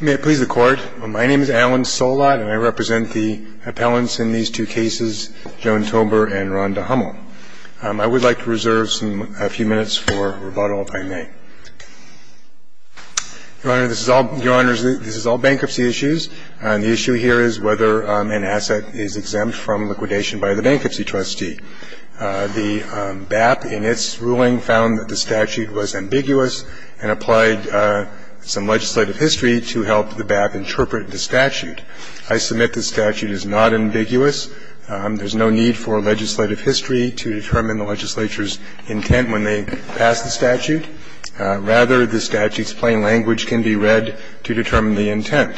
May it please the Court. My name is Alan Solot and I represent the appellants in these two cases, Joan Tober and Ronda Hummel. I would like to reserve a few minutes for rebuttal if I may. Your Honor, this is all bankruptcy issues. The issue here is whether an asset is exempt from liquidation by the bankruptcy trustee. The BAP in its ruling found that the statute was ambiguous and applied some legislative history to help the BAP interpret the statute. I submit the statute is not ambiguous. There's no need for legislative history to determine the legislature's intent when they pass the statute. Rather, the statute's plain language can be read to determine the intent.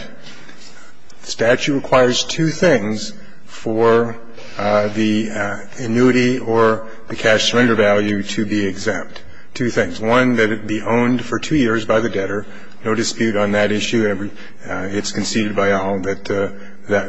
The statute requires two things for the annuity or the cash surrender value to be exempt. Two things. One, that it be owned for two years by the debtor. No dispute on that issue. It's conceded by all that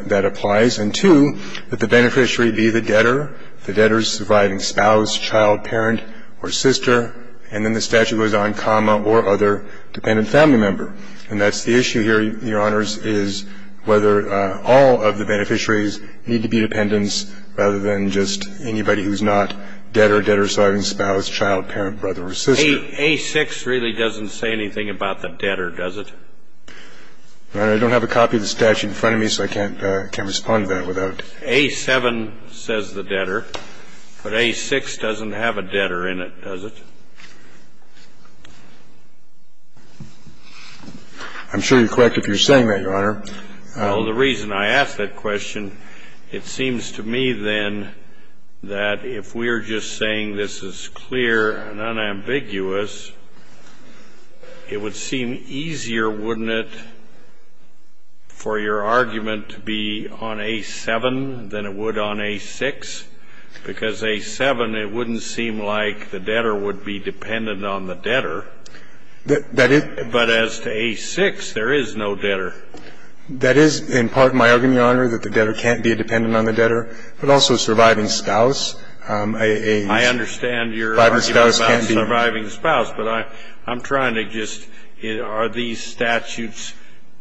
that applies. And two, that the beneficiary be the debtor, the debtor's surviving spouse, child, parent, or sister. And then the statute goes on, comma, or other dependent family member. And that's the issue here, Your Honors, is whether all of the beneficiaries need to be dependents rather than just anybody who's not debtor, debtor's surviving spouse, child, parent, brother, or sister. A6 really doesn't say anything about the debtor, does it? Your Honor, I don't have a copy of the statute in front of me, so I can't respond to that without it. A7 says the debtor, but A6 doesn't have a debtor in it, does it? I'm sure you're correct if you're saying that, Your Honor. Well, the reason I ask that question, it seems to me, then, that if we're just saying this is clear and unambiguous, it would seem easier, wouldn't it, for your argument to be on A7 than it would on A6? Because A7, it wouldn't seem like the debtor would be dependent on the debtor. But as to A6, there is no debtor. That is, in part, my argument, Your Honor, that the debtor can't be a dependent on the debtor, but also a surviving spouse. I understand your argument about surviving spouse, but I'm trying to just, are these statutes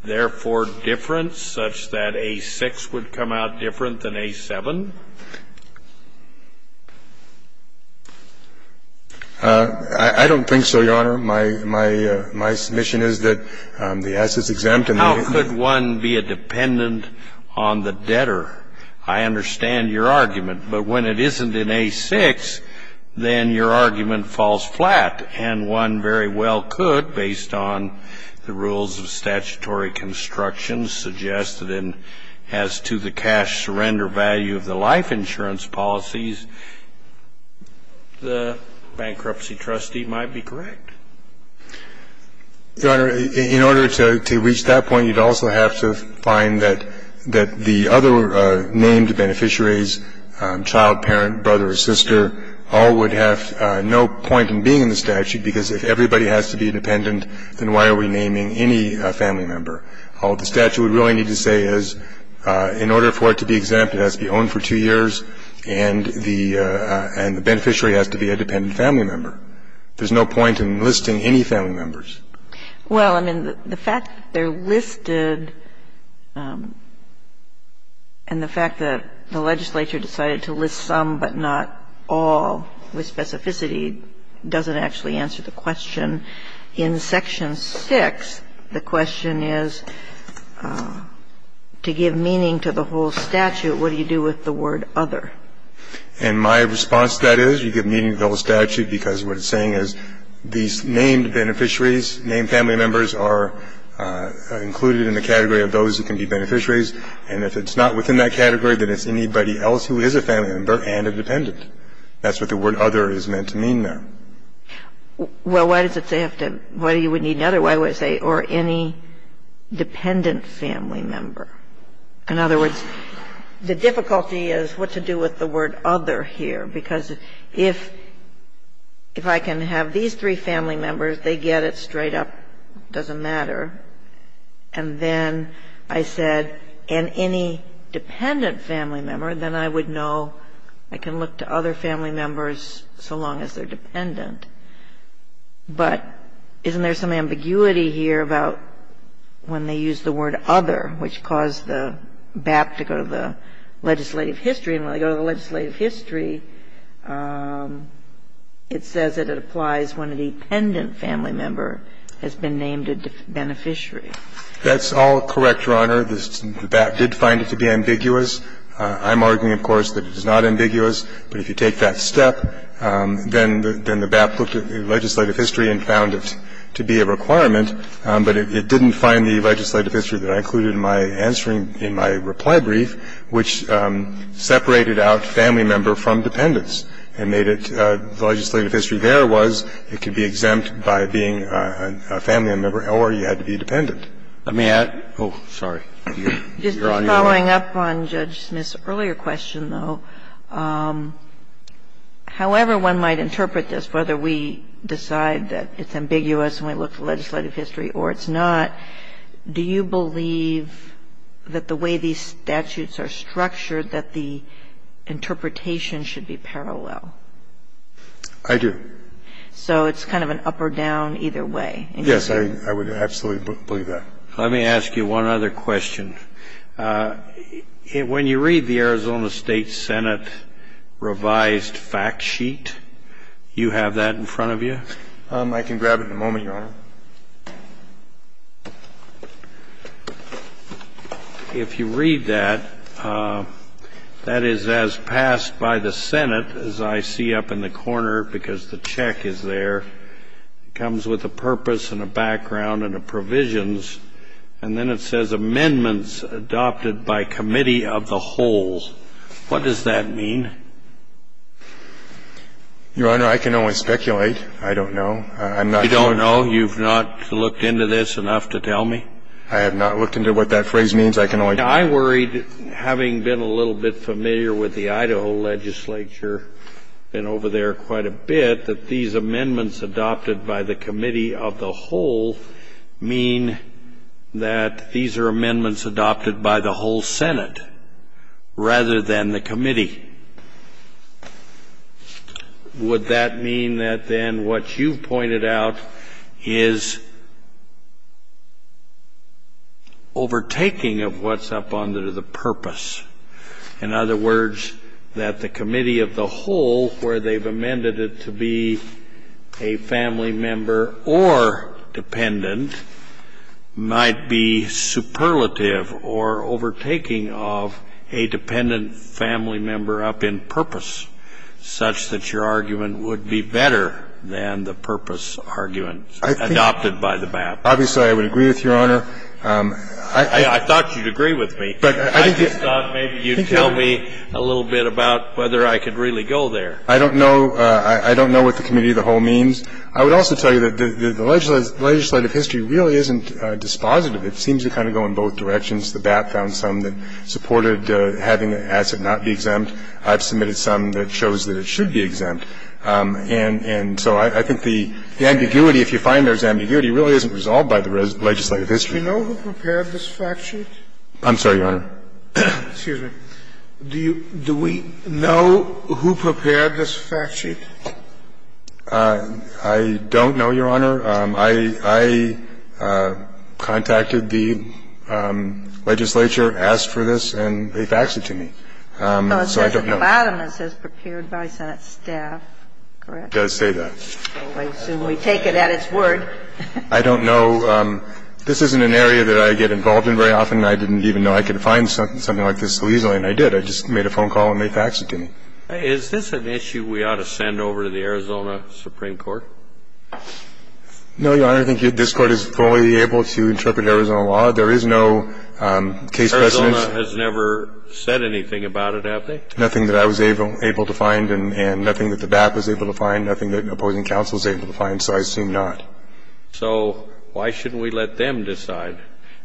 therefore different, such that A6 would come out different than A7? I don't think so, Your Honor. My submission is that the S is exempt. How could one be a dependent on the debtor? I understand your argument. But when it isn't in A6, then your argument falls flat. And one very well could, based on the rules of statutory construction suggested and as to the cash surrender value of the life insurance policies, the bankruptcy trustee might be correct. Your Honor, in order to reach that point, you'd also have to find that the other named beneficiaries, child, parent, brother or sister, all would have no point in being in the statute, because if everybody has to be independent, then why are we naming any family member? All the statute would really need to say is, in order for it to be exempt, it has to be owned for two years, and the beneficiary has to be a dependent family member. There's no point in listing any family members. Well, I mean, the fact that they're listed and the fact that the legislature decided to list some but not all with specificity doesn't actually answer the question. In Section 6, the question is, to give meaning to the whole statute, what do you do with the word other? And my response to that is you give meaning to the whole statute because what it's saying is these named beneficiaries, named family members are included in the category of those who can be beneficiaries. And if it's not within that category, then it's anybody else who is a family member and a dependent. That's what the word other is meant to mean there. Well, why does it say you would need another? Why do I say or any dependent family member? In other words, the difficulty is what to do with the word other here because if I can have these three family members, they get it straight up. It doesn't matter. And then I said and any dependent family member, then I would know I can look to other family members so long as they're dependent. But isn't there some ambiguity here about when they use the word other, which caused the BAP to go to the legislative history. And when they go to the legislative history, it says that it applies when a dependent family member has been named a beneficiary. That's all correct, Your Honor. The BAP did find it to be ambiguous. I'm arguing, of course, that it is not ambiguous. But if you take that step, then the BAP looked at the legislative history and found it to be a requirement, but it didn't find the legislative history that I included in my answer in my reply brief, which separated out family member from dependents and made it the legislative history there was it could be exempt by being a family member or you had to be dependent. Let me add, oh, sorry. You're on your own. Just following up on Judge Smith's earlier question, though, however one might interpret this, whether we decide that it's ambiguous and we look to legislative history or it's not, do you believe that the way these statutes are structured, that the interpretation should be parallel? I do. So it's kind of an up or down, either way. Yes, I would absolutely believe that. Let me ask you one other question. When you read the Arizona State Senate revised fact sheet, you have that in front of you? I can grab it in a moment, Your Honor. If you read that, that is as passed by the Senate, as I see up in the corner because the check is there. It comes with a purpose and a background and a provisions. And then it says amendments adopted by committee of the whole. What does that mean? Your Honor, I can only speculate. I don't know. I'm not sure. You don't know? You've not looked into this enough to tell me? I have not looked into what that phrase means. I can only speculate. I worried, having been a little bit familiar with the Idaho legislature, been over there quite a bit, that these amendments adopted by the committee of the whole mean that these are amendments adopted by the whole Senate rather than the committee. Would that mean that then what you've pointed out is overtaking of what's up under the purpose? In other words, that the committee of the whole, where they've amended it to be a family member or dependent, might be superlative or overtaking of a dependent family member up in purpose, such that your argument would be better than the purpose argument adopted by the BAP? Obviously, I would agree with Your Honor. I thought you'd agree with me. I just thought maybe you'd tell me a little bit about whether I could really go there. I don't know. I don't know what the committee of the whole means. I would also tell you that the legislative history really isn't dispositive. It seems to kind of go in both directions. The BAP found some that supported having the asset not be exempt. I've submitted some that shows that it should be exempt. And so I think the ambiguity, if you find there's ambiguity, really isn't resolved by the legislative history. Do you know who prepared this fact sheet? I'm sorry, Your Honor. Excuse me. Do we know who prepared this fact sheet? I don't know, Your Honor. I contacted the legislature, asked for this, and they faxed it to me. So I don't know. The bottom says prepared by senate staff. Correct? It does say that. I assume we take it at its word. I don't know. This isn't an area that I get involved in very often. I didn't even know I could find something like this so easily, and I did. I just made a phone call and they faxed it to me. Is this an issue we ought to send over to the Arizona Supreme Court? No, Your Honor. I think this Court is fully able to interpret Arizona law. There is no case precedent. Arizona has never said anything about it, have they? Nothing that I was able to find and nothing that the BAP was able to find, nothing that an opposing counsel was able to find, so I assume not. So why shouldn't we let them decide?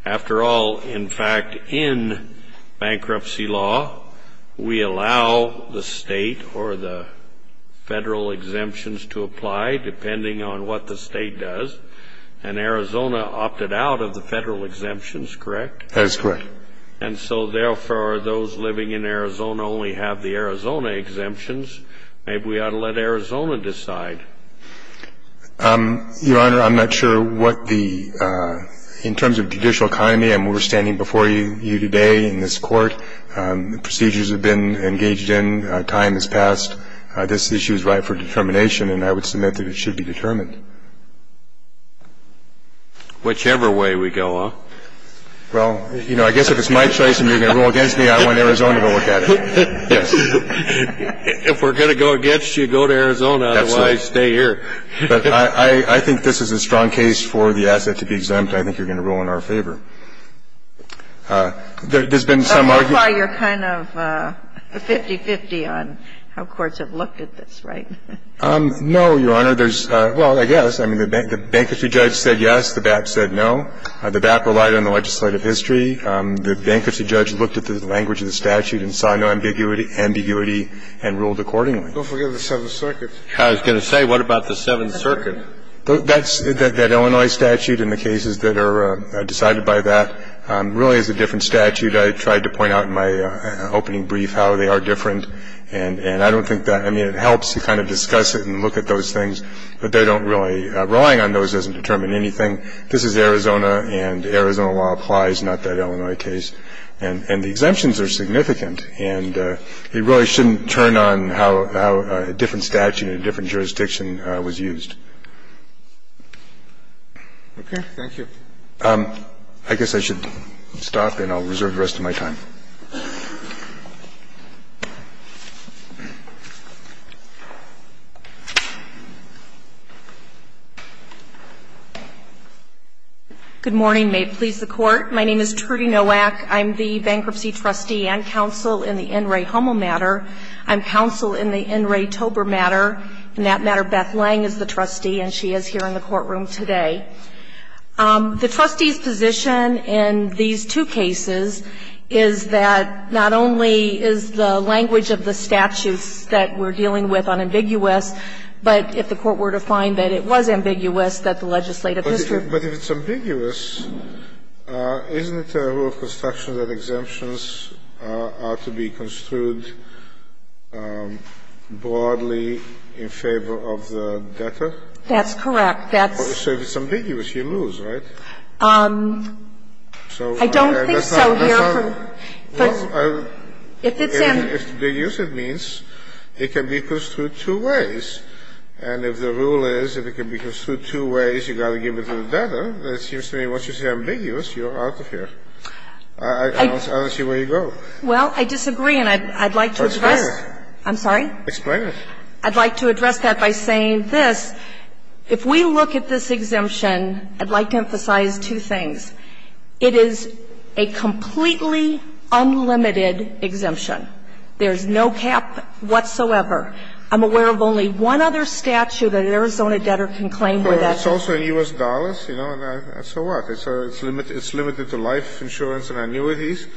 After all, in fact, in bankruptcy law, we allow the state or the federal exemptions to apply depending on what the state does, and Arizona opted out of the federal exemptions, correct? That is correct. And so therefore, those living in Arizona only have the Arizona exemptions. Maybe we ought to let Arizona decide. Your Honor, I'm not sure what the – in terms of judicial economy, and we're standing before you today in this Court, the procedures have been engaged in, time has passed, this issue is ripe for determination, and I would submit that it should be determined. Whichever way we go, huh? Well, you know, I guess if it's my choice and you're going to rule against me, I want Arizona to look at it. Yes. If we're going to go against you, go to Arizona. Absolutely. Otherwise, stay here. But I think this is a strong case for the asset to be exempt. I think you're going to rule in our favor. There's been some argument – But so far, you're kind of 50-50 on how courts have looked at this, right? No, Your Honor. There's – well, I guess. I mean, the bankruptcy judge said yes. The BAP said no. The BAP relied on the legislative history. The bankruptcy judge looked at the language of the statute and saw no ambiguity and ruled accordingly. Well, forget the Seventh Circuit. I was going to say, what about the Seventh Circuit? That's – that Illinois statute and the cases that are decided by that really is a different statute. I tried to point out in my opening brief how they are different, and I don't think that – I mean, it helps to kind of discuss it and look at those things, but they don't really – relying on those doesn't determine anything. This is Arizona, and Arizona law applies, not that Illinois case. And the exemptions are significant, and you really shouldn't turn on how a different statute in a different jurisdiction was used. Okay. Thank you. I guess I should stop, and I'll reserve the rest of my time. Good morning. May it please the Court. My name is Trudy Nowak. I'm the bankruptcy trustee and counsel in the NRA HOMO matter. I'm counsel in the NRA TOBOR matter. In that matter, Beth Lang is the trustee, and she is here in the courtroom today. I think the question is that not only is the language of the statutes that we're dealing with unambiguous, but if the Court were to find that it was ambiguous, that the legislative district – But if it's ambiguous, isn't it a rule of construction that exemptions are to be construed broadly in favor of the debtor? That's correct. That's – Well, if it's ambiguous, it means it can be construed two ways. And if the rule is if it can be construed two ways, you've got to give it to the debtor, it seems to me once it's ambiguous, you're out of here. I don't see where you go. Well, I disagree, and I'd like to address – Explain it. I'm sorry? Explain it. I'd like to address that by saying this. If we look at this exemption, I'd like to emphasize two things. It is a completely unlimited exemption. There's no cap whatsoever. I'm aware of only one other statute that an Arizona debtor can claim where that is. Well, it's also in U.S. dollars, you know, and so what? It's limited to life insurance and annuities.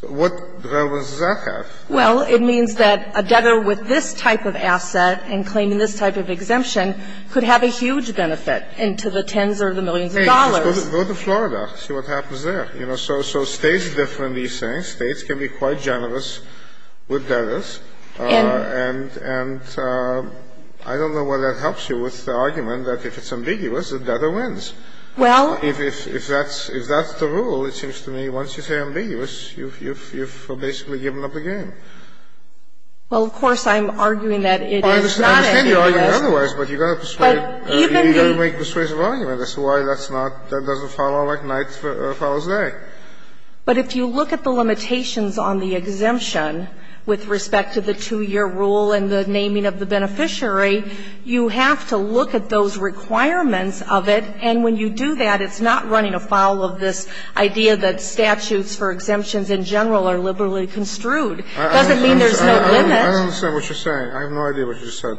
What relevance does that have? Well, it means that a debtor with this type of asset and claiming this type of exemption could have a huge benefit into the tens or the millions of dollars. Go to Florida, see what happens there. So states differ in these things. States can be quite generous with debtors, and I don't know whether that helps you with the argument that if it's ambiguous, the debtor wins. Well – If that's the rule, it seems to me, once you say ambiguous, you've basically given up the game. I understand the argument otherwise, but you've got to persuade – you've got to make persuasive arguments as to why that's not – that doesn't follow like night follows day. But if you look at the limitations on the exemption with respect to the two-year rule and the naming of the beneficiary, you have to look at those requirements of it, and when you do that, it's not running afoul of this idea that statutes for exemptions in general are liberally construed. It doesn't mean there's no limit. I don't understand what you're saying. I have no idea what you just said.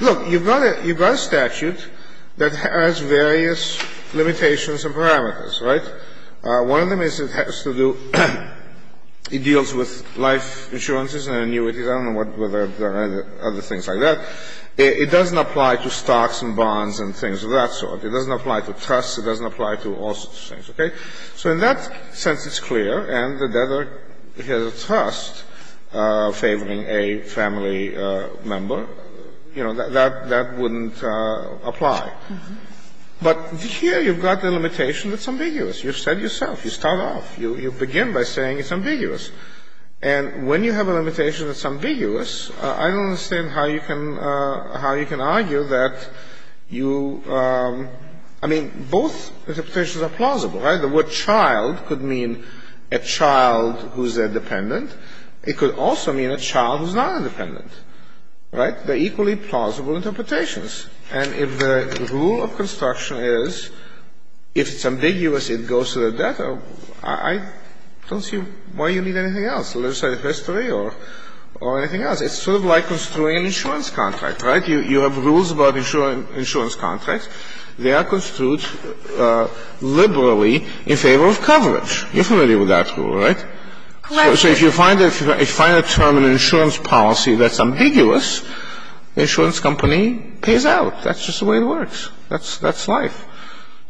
Look, you've got a statute that has various limitations and parameters, right? One of them is it has to do – it deals with life insurances and annuities. I don't know whether there are other things like that. It doesn't apply to stocks and bonds and things of that sort. It doesn't apply to trusts. It doesn't apply to all sorts of things, okay? So in that sense, it's clear, and the debtor has a trust favoring a family member. You know, that wouldn't apply. But here you've got the limitation that's ambiguous. You've said yourself. You start off. You begin by saying it's ambiguous. And when you have a limitation that's ambiguous, I don't understand how you can argue that you – I mean, both interpretations are plausible, right? The word child could mean a child who's a dependent. It could also mean a child who's not a dependent, right? They're equally plausible interpretations. And if the rule of construction is, if it's ambiguous, it goes to the debtor, I don't see why you need anything else, legislative history or anything else. It's sort of like construing an insurance contract, right? You have rules about insurance contracts. They are construed liberally in favor of coverage. You're familiar with that rule, right? So if you find a term in insurance policy that's ambiguous, the insurance company pays out. That's just the way it works. That's life.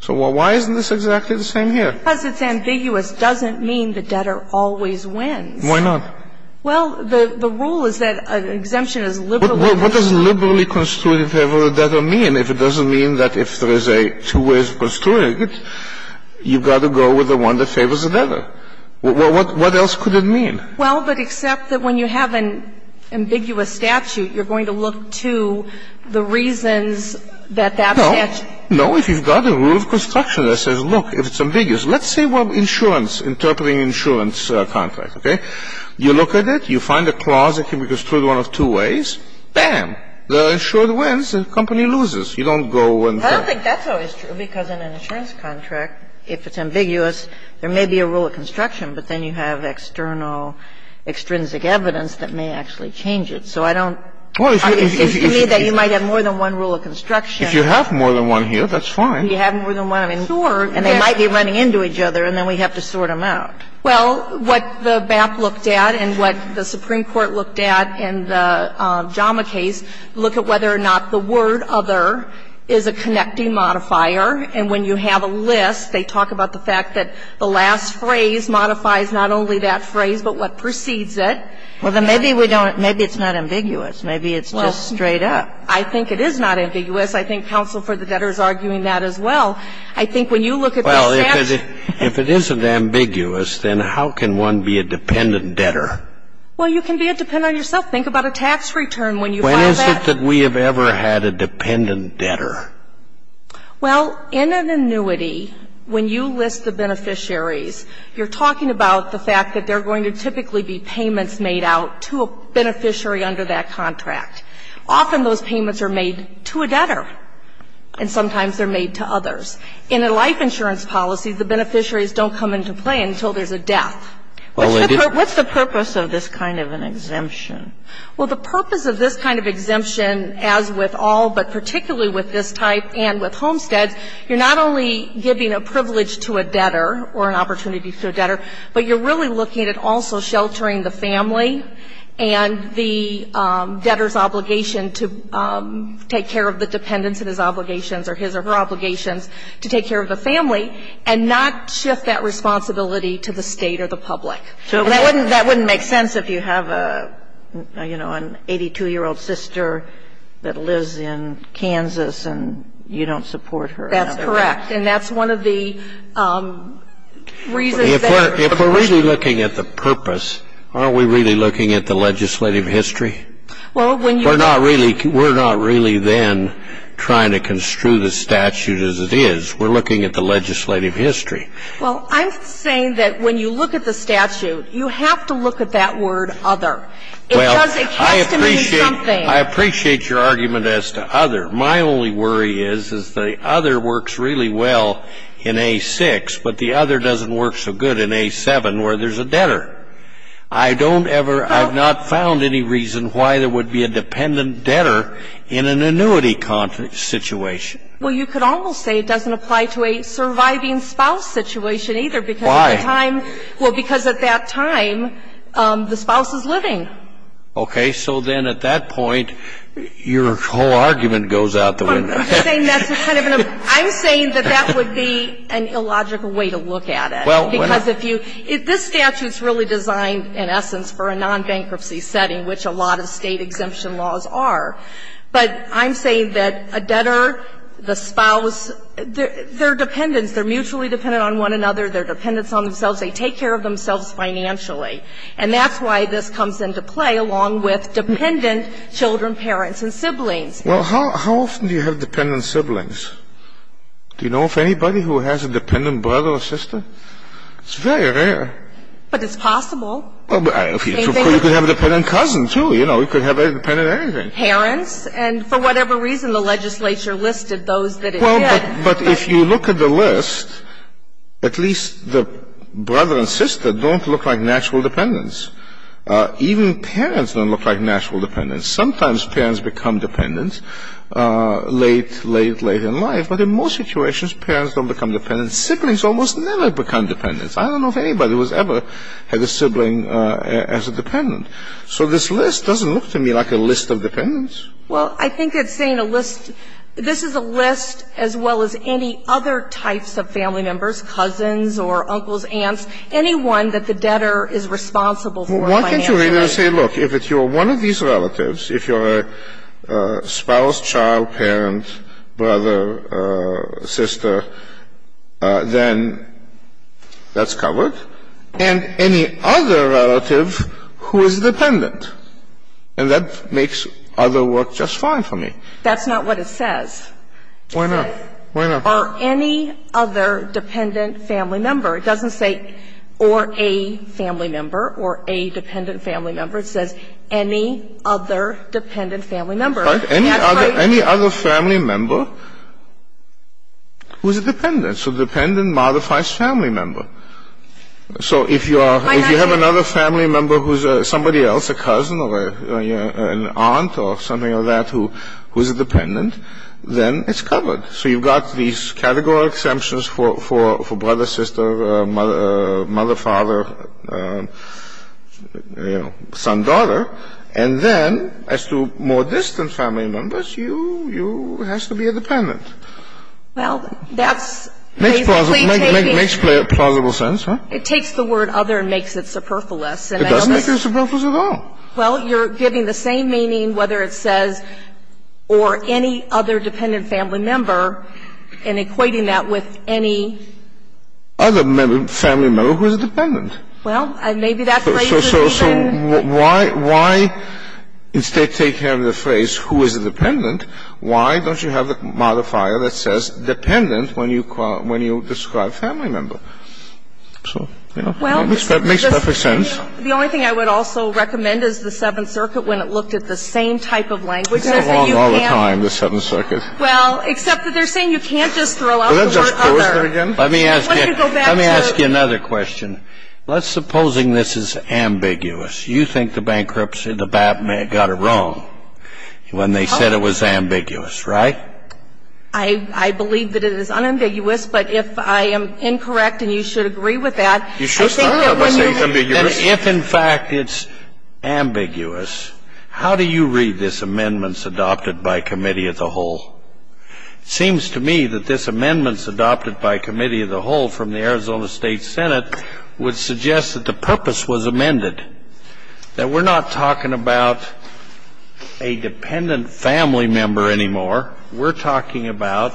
So why isn't this exactly the same here? Because it's ambiguous doesn't mean the debtor always wins. Why not? Well, the rule is that an exemption is liberally construed. Now, what does the rule of construction in favor of the debtor mean? If it doesn't mean that if there is a two-ways of construing it, you've got to go with the one that favors the debtor. What else could it mean? Well, but except that when you have an ambiguous statute, you're going to look to the reasons that that statute. No. No. If you've got a rule of construction that says, look, if it's ambiguous, let's say you have insurance, interpreting insurance contract, okay? You look at it. You find a clause that can be construed one of two ways. Bam. The insured wins. The company loses. You don't go and cut. I don't think that's always true, because in an insurance contract, if it's ambiguous, there may be a rule of construction, but then you have external, extrinsic evidence that may actually change it. So I don't. It seems to me that you might have more than one rule of construction. If you have more than one here, that's fine. If you have more than one, I mean, and they might be running into each other, and then we have to sort them out. Well, what the BAP looked at and what the Supreme Court looked at in the JAMA case, look at whether or not the word other is a connecting modifier, and when you have a list, they talk about the fact that the last phrase modifies not only that phrase, but what precedes it. Well, then maybe we don't. Maybe it's not ambiguous. Maybe it's just straight up. I think it is not ambiguous. I think counsel for the debtor is arguing that as well. I think when you look at the statute. Well, if it isn't ambiguous, then how can one be a dependent debtor? Well, you can be a dependent on yourself. Think about a tax return when you file that. When is it that we have ever had a dependent debtor? Well, in an annuity, when you list the beneficiaries, you're talking about the fact that there are going to typically be payments made out to a beneficiary under that contract. Often those payments are made to a debtor, and sometimes they're made to others. In a life insurance policy, the beneficiaries don't come into play until there's a death. What's the purpose of this kind of an exemption? Well, the purpose of this kind of exemption, as with all, but particularly with this type and with homesteads, you're not only giving a privilege to a debtor or an opportunity to a debtor, but you're really looking at also sheltering the family and the debtor's obligation to take care of the dependents and his obligations or his or her obligations to take care of the family and not shift that responsibility to the State or the public. And that wouldn't make sense if you have a, you know, an 82-year-old sister that lives in Kansas and you don't support her. That's correct. And that's one of the reasons that we're looking at this. Aren't we really looking at the legislative history? We're not really then trying to construe the statute as it is. We're looking at the legislative history. Well, I'm saying that when you look at the statute, you have to look at that word other. Well, I appreciate your argument as to other. My only worry is, is the other works really well in A6, but the other doesn't work so good in A7 where there's a debtor. I don't ever, I've not found any reason why there would be a dependent debtor in an annuity situation. Well, you could almost say it doesn't apply to a surviving spouse situation either because at the time. Why? Well, because at that time, the spouse is living. Okay. So then at that point, your whole argument goes out the window. I'm saying that's kind of an, I'm saying that that would be an illogical way to look at it because if you, this statute's really designed in essence for a non-bankruptcy setting, which a lot of State exemption laws are. But I'm saying that a debtor, the spouse, they're dependents. They're mutually dependent on one another. They're dependents on themselves. They take care of themselves financially. And that's why this comes into play along with dependent children, parents, and siblings. Well, how often do you have dependent siblings? Do you know of anybody who has a dependent brother or sister? It's very rare. But it's possible. Well, you could have a dependent cousin, too. You know, you could have a dependent anything. Parents. And for whatever reason, the legislature listed those that it did. Well, but if you look at the list, at least the brother and sister don't look like natural dependents. Even parents don't look like natural dependents. Sometimes parents become dependents late, late, late in life. But in most situations, parents don't become dependents. Siblings almost never become dependents. I don't know of anybody who has ever had a sibling as a dependent. So this list doesn't look to me like a list of dependents. Well, I think it's saying a list. This is a list as well as any other types of family members, cousins or uncles, aunts, anyone that the debtor is responsible for financially. Why can't you either say, look, if you're one of these relatives, if you're a spouse, child, parent, brother, sister, then that's covered. And any other relative who is dependent. And that makes other work just fine for me. That's not what it says. Why not? Why not? It says are any other dependent family member. It doesn't say or a family member or a dependent family member. It says any other dependent family member. That's how you do it. Any other family member who is a dependent. So dependent modifies family member. So if you are, if you have another family member who is somebody else, a cousin or an aunt or something like that who is a dependent, then it's covered. So you've got these categorical exemptions for brother, sister, mother, father, you know, son, daughter. And then as to more distant family members, you, you have to be a dependent. Well, that's basically taking. Makes plausible sense, right? It takes the word other and makes it superfluous. It doesn't make it superfluous at all. Well, you're giving the same meaning whether it says or any other dependent family member and equating that with any. Other family member who is a dependent. Well, maybe that phrase is even. So why, why instead take care of the phrase who is a dependent? Why don't you have a modifier that says dependent when you call, when you describe family member? So, you know, it makes perfect sense. The only thing I would also recommend is the Seventh Circuit when it looked at the same type of language. It's the wrong all the time, the Seventh Circuit. Well, except that they're saying you can't just throw out the word other. Let me ask you another question. Let's suppose this is ambiguous. You think the bankruptcy, the BAP got it wrong when they said it was ambiguous, right? I believe that it is unambiguous. But if I am incorrect and you should agree with that. You should start out by saying ambiguous. If in fact it's ambiguous, how do you read this amendments adopted by committee of the whole? It seems to me that this amendments adopted by committee of the whole from the Arizona State Senate would suggest that the purpose was amended, that we're not talking about a dependent family member anymore. We're talking about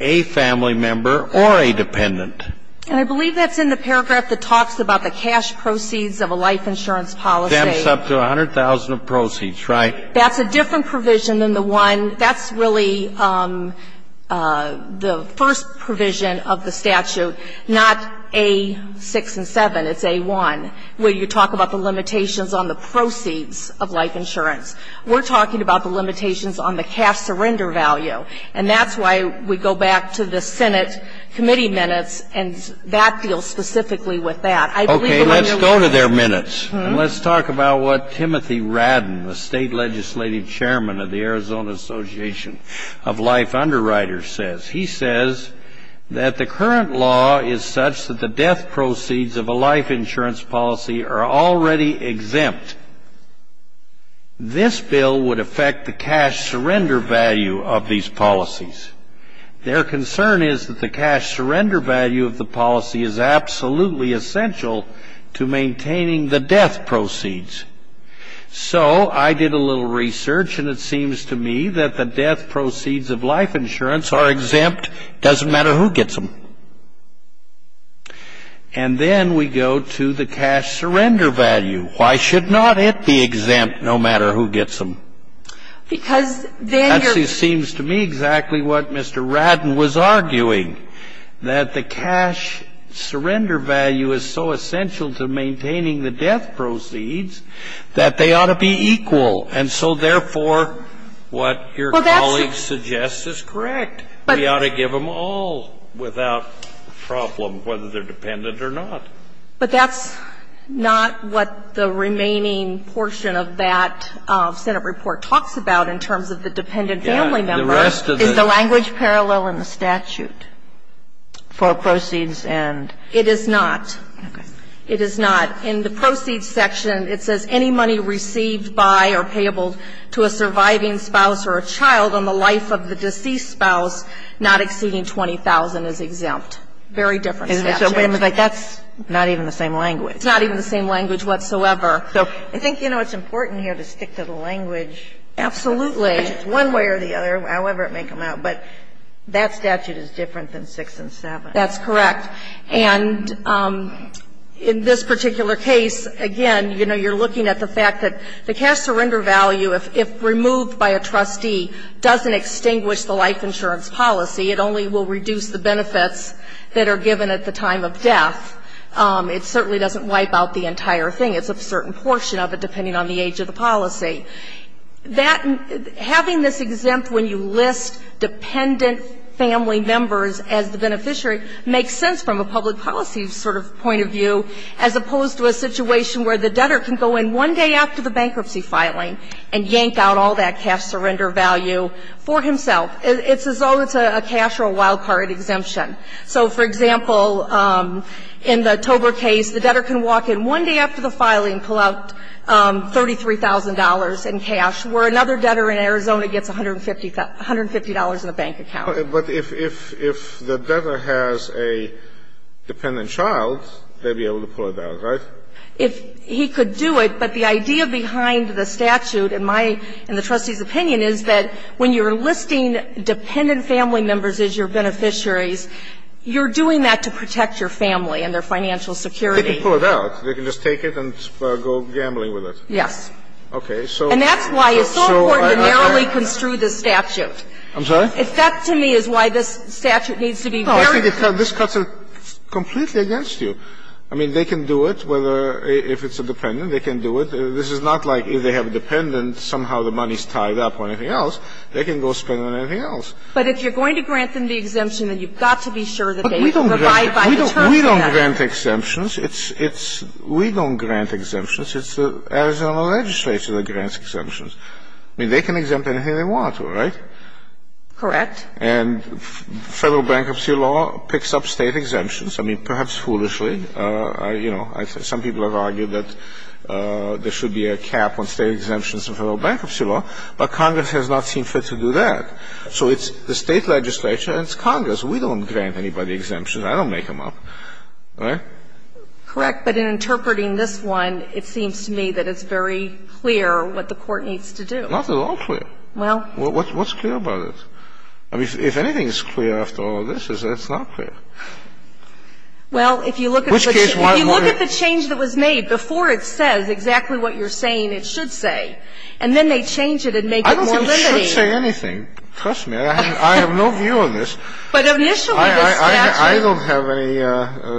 a family member or a dependent. And I believe that's in the paragraph that talks about the cash proceeds of a life insurance policy. Stamps up to 100,000 of proceeds, right? That's a different provision than the one that's really the first provision of the statute, not A6 and 7, it's A1, where you talk about the limitations on the proceeds of life insurance. We're talking about the limitations on the cash surrender value. And that's why we go back to the Senate committee minutes, and that deals specifically with that. I believe that I'm going to leave it there. Okay. Let's go to their minutes. And let's talk about what Timothy Radden, the state legislative chairman of the Arizona Association of Life Underwriters says. He says that the current law is such that the death proceeds of a life insurance policy are already exempt. This bill would affect the cash surrender value of these policies. Their concern is that the cash surrender value of the policy is absolutely essential to maintaining the death proceeds. So I did a little research, and it seems to me that the death proceeds of life insurance are exempt. It doesn't matter who gets them. And then we go to the cash surrender value. Why should not it be exempt, no matter who gets them? Because then you're ---- Actually, it seems to me exactly what Mr. Radden was arguing, that the cash surrender value is so essential to maintaining the death proceeds that they ought to be equal. And so, therefore, what your colleague suggests is correct. We ought to give them all without problem, whether they're dependent or not. But that's not what the remaining portion of that Senate report talks about in terms of the dependent family member. The rest of the ---- Is the language parallel in the statute for proceeds and ---- It is not. It is not. In the proceeds section, it says any money received by or payable to a surviving spouse or a child on the life of the deceased spouse not exceeding 20,000 is exempt. Very different statute. That's not even the same language. It's not even the same language whatsoever. So I think, you know, it's important here to stick to the language. Absolutely. One way or the other, however it may come out. But that statute is different than 6 and 7. That's correct. And in this particular case, again, you know, you're looking at the fact that the cash surrender value, if removed by a trustee, doesn't extinguish the life insurance policy. It only will reduce the benefits that are given at the time of death. It certainly doesn't wipe out the entire thing. It's a certain portion of it, depending on the age of the policy. That ---- having this exempt when you list dependent family members as the beneficiary makes sense from a public policy sort of point of view, as opposed to a situation where the debtor can go in one day after the bankruptcy filing and yank out all that cash surrender value for himself. It's as though it's a cash or a wild card exemption. So, for example, in the Tober case, the debtor can walk in one day after the filing and pull out $33,000 in cash, where another debtor in Arizona gets $150 in a bank account. But if the debtor has a dependent child, they'd be able to pull it out, right? If he could do it, but the idea behind the statute, in my ---- in the trustee's opinion, is that when you're listing dependent family members as your beneficiaries, you're doing that to protect your family and their financial security. They can pull it out. They can just take it and go gambling with it. Yes. Okay. So ---- And that's why it's so important to narrowly construe this statute. I'm sorry? If that, to me, is why this statute needs to be very ---- No, I think this cuts it completely against you. I mean, they can do it whether ---- if it's a dependent, they can do it. This is not like if they have a dependent, somehow the money's tied up or anything else. They can go spend on anything else. But if you're going to grant them the exemption, then you've got to be sure that they can provide by the terms of that. We don't grant exemptions. It's the Arizona legislature that grants exemptions. I mean, they can exempt anything they want to, right? Correct. And Federal bankruptcy law picks up State exemptions. I mean, perhaps foolishly. You know, some people have argued that there should be a cap on State exemptions in Federal bankruptcy law, but Congress has not seen fit to do that. So it's the State legislature and it's Congress. We don't grant anybody exemptions. I don't make them up. Right? Correct. But in interpreting this one, it seems to me that it's very clear what the Court needs to do. Not at all clear. Well ---- What's clear about it? I mean, if anything is clear after all of this is that it's not clear. Well, if you look at the change that was made before it says exactly what you're saying it should say, and then they change it and make it more limiting. I don't think it should say anything. Trust me. I have no view on this. But initially the statute ---- I don't have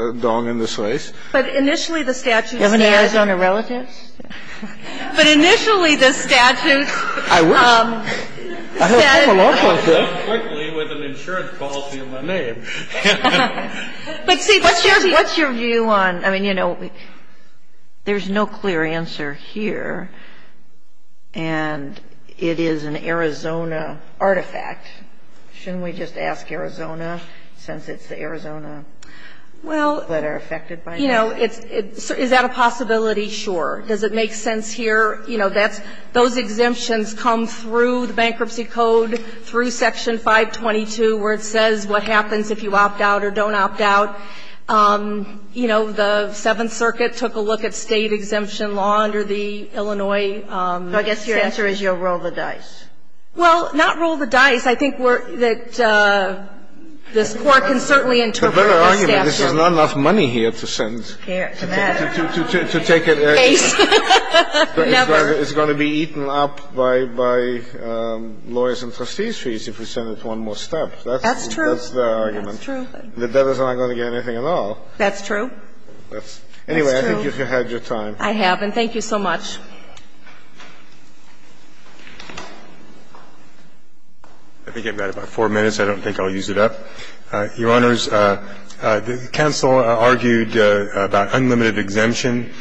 any dong in this race. But initially the statute said ---- You have any Arizona relatives? But initially the statute said ---- I wish. I heard a couple of law clerks say it. I'm going to go quickly with an insurance policy in my name. But see, what's your view on ---- I mean, you know, there's no clear answer here. And it is an Arizona artifact. Shouldn't we just ask Arizona, since it's the Arizona that are affected by this? Well, you know, is that a possibility? Sure. Does it make sense here? I mean, you know, I think it's a pretty clear answer. is a pretty clear answer. You know, that's ---- those exemptions come through the bankruptcy code, through Section 522, where it says what happens if you opt out or don't opt out. You know, the Seventh Circuit took a look at state exemption law under the Illinois So I guess your answer is you'll roll the dice. Well, not roll the dice. I think we're ---- that this Court can certainly interpret the statute. The better argument is there's not enough money here to send. To that. To take it ---- Case. Never. It's going to be eaten up by lawyers' and trustees' fees if we send it one more step. That's true. That's their argument. That's true. The debtors aren't going to get anything at all. That's true. Anyway, I think you've had your time. I have. And thank you so much. I think I've got about four minutes. I don't think I'll use it up. Your Honors, the counsel argued about unlimited exemption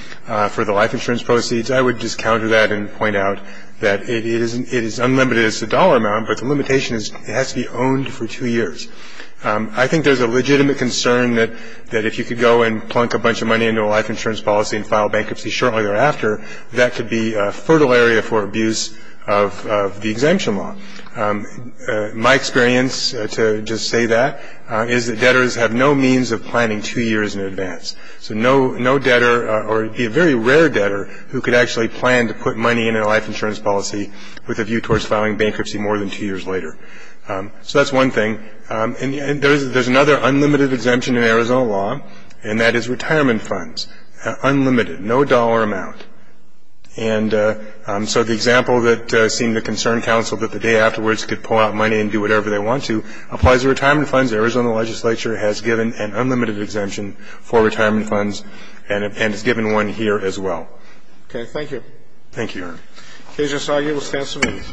for the life insurance proceeds. I would just counter that and point out that it is unlimited. It's a dollar amount, but the limitation is it has to be owned for two years. I think there's a legitimate concern that if you could go and plunk a bunch of money into a life insurance policy and file bankruptcy shortly thereafter, that could be a fertile area for abuse of the exemption law. My experience, to just say that, is that debtors have no means of planning two years in advance. So no debtor, or it would be a very rare debtor, who could actually plan to put money in a life insurance policy with a view towards filing bankruptcy more than two years later. So that's one thing. And there's another unlimited exemption in Arizona law, and that is retirement funds. Unlimited. No dollar amount. And so the example that seemed to concern counsel, that the day afterwards could pull out money and do whatever they want to, applies to retirement funds. The Arizona legislature has given an unlimited exemption for retirement funds, and has given one here as well. Okay. Thank you. Thank you, Your Honor. Okay, Judge Asagi, we'll stand some minutes.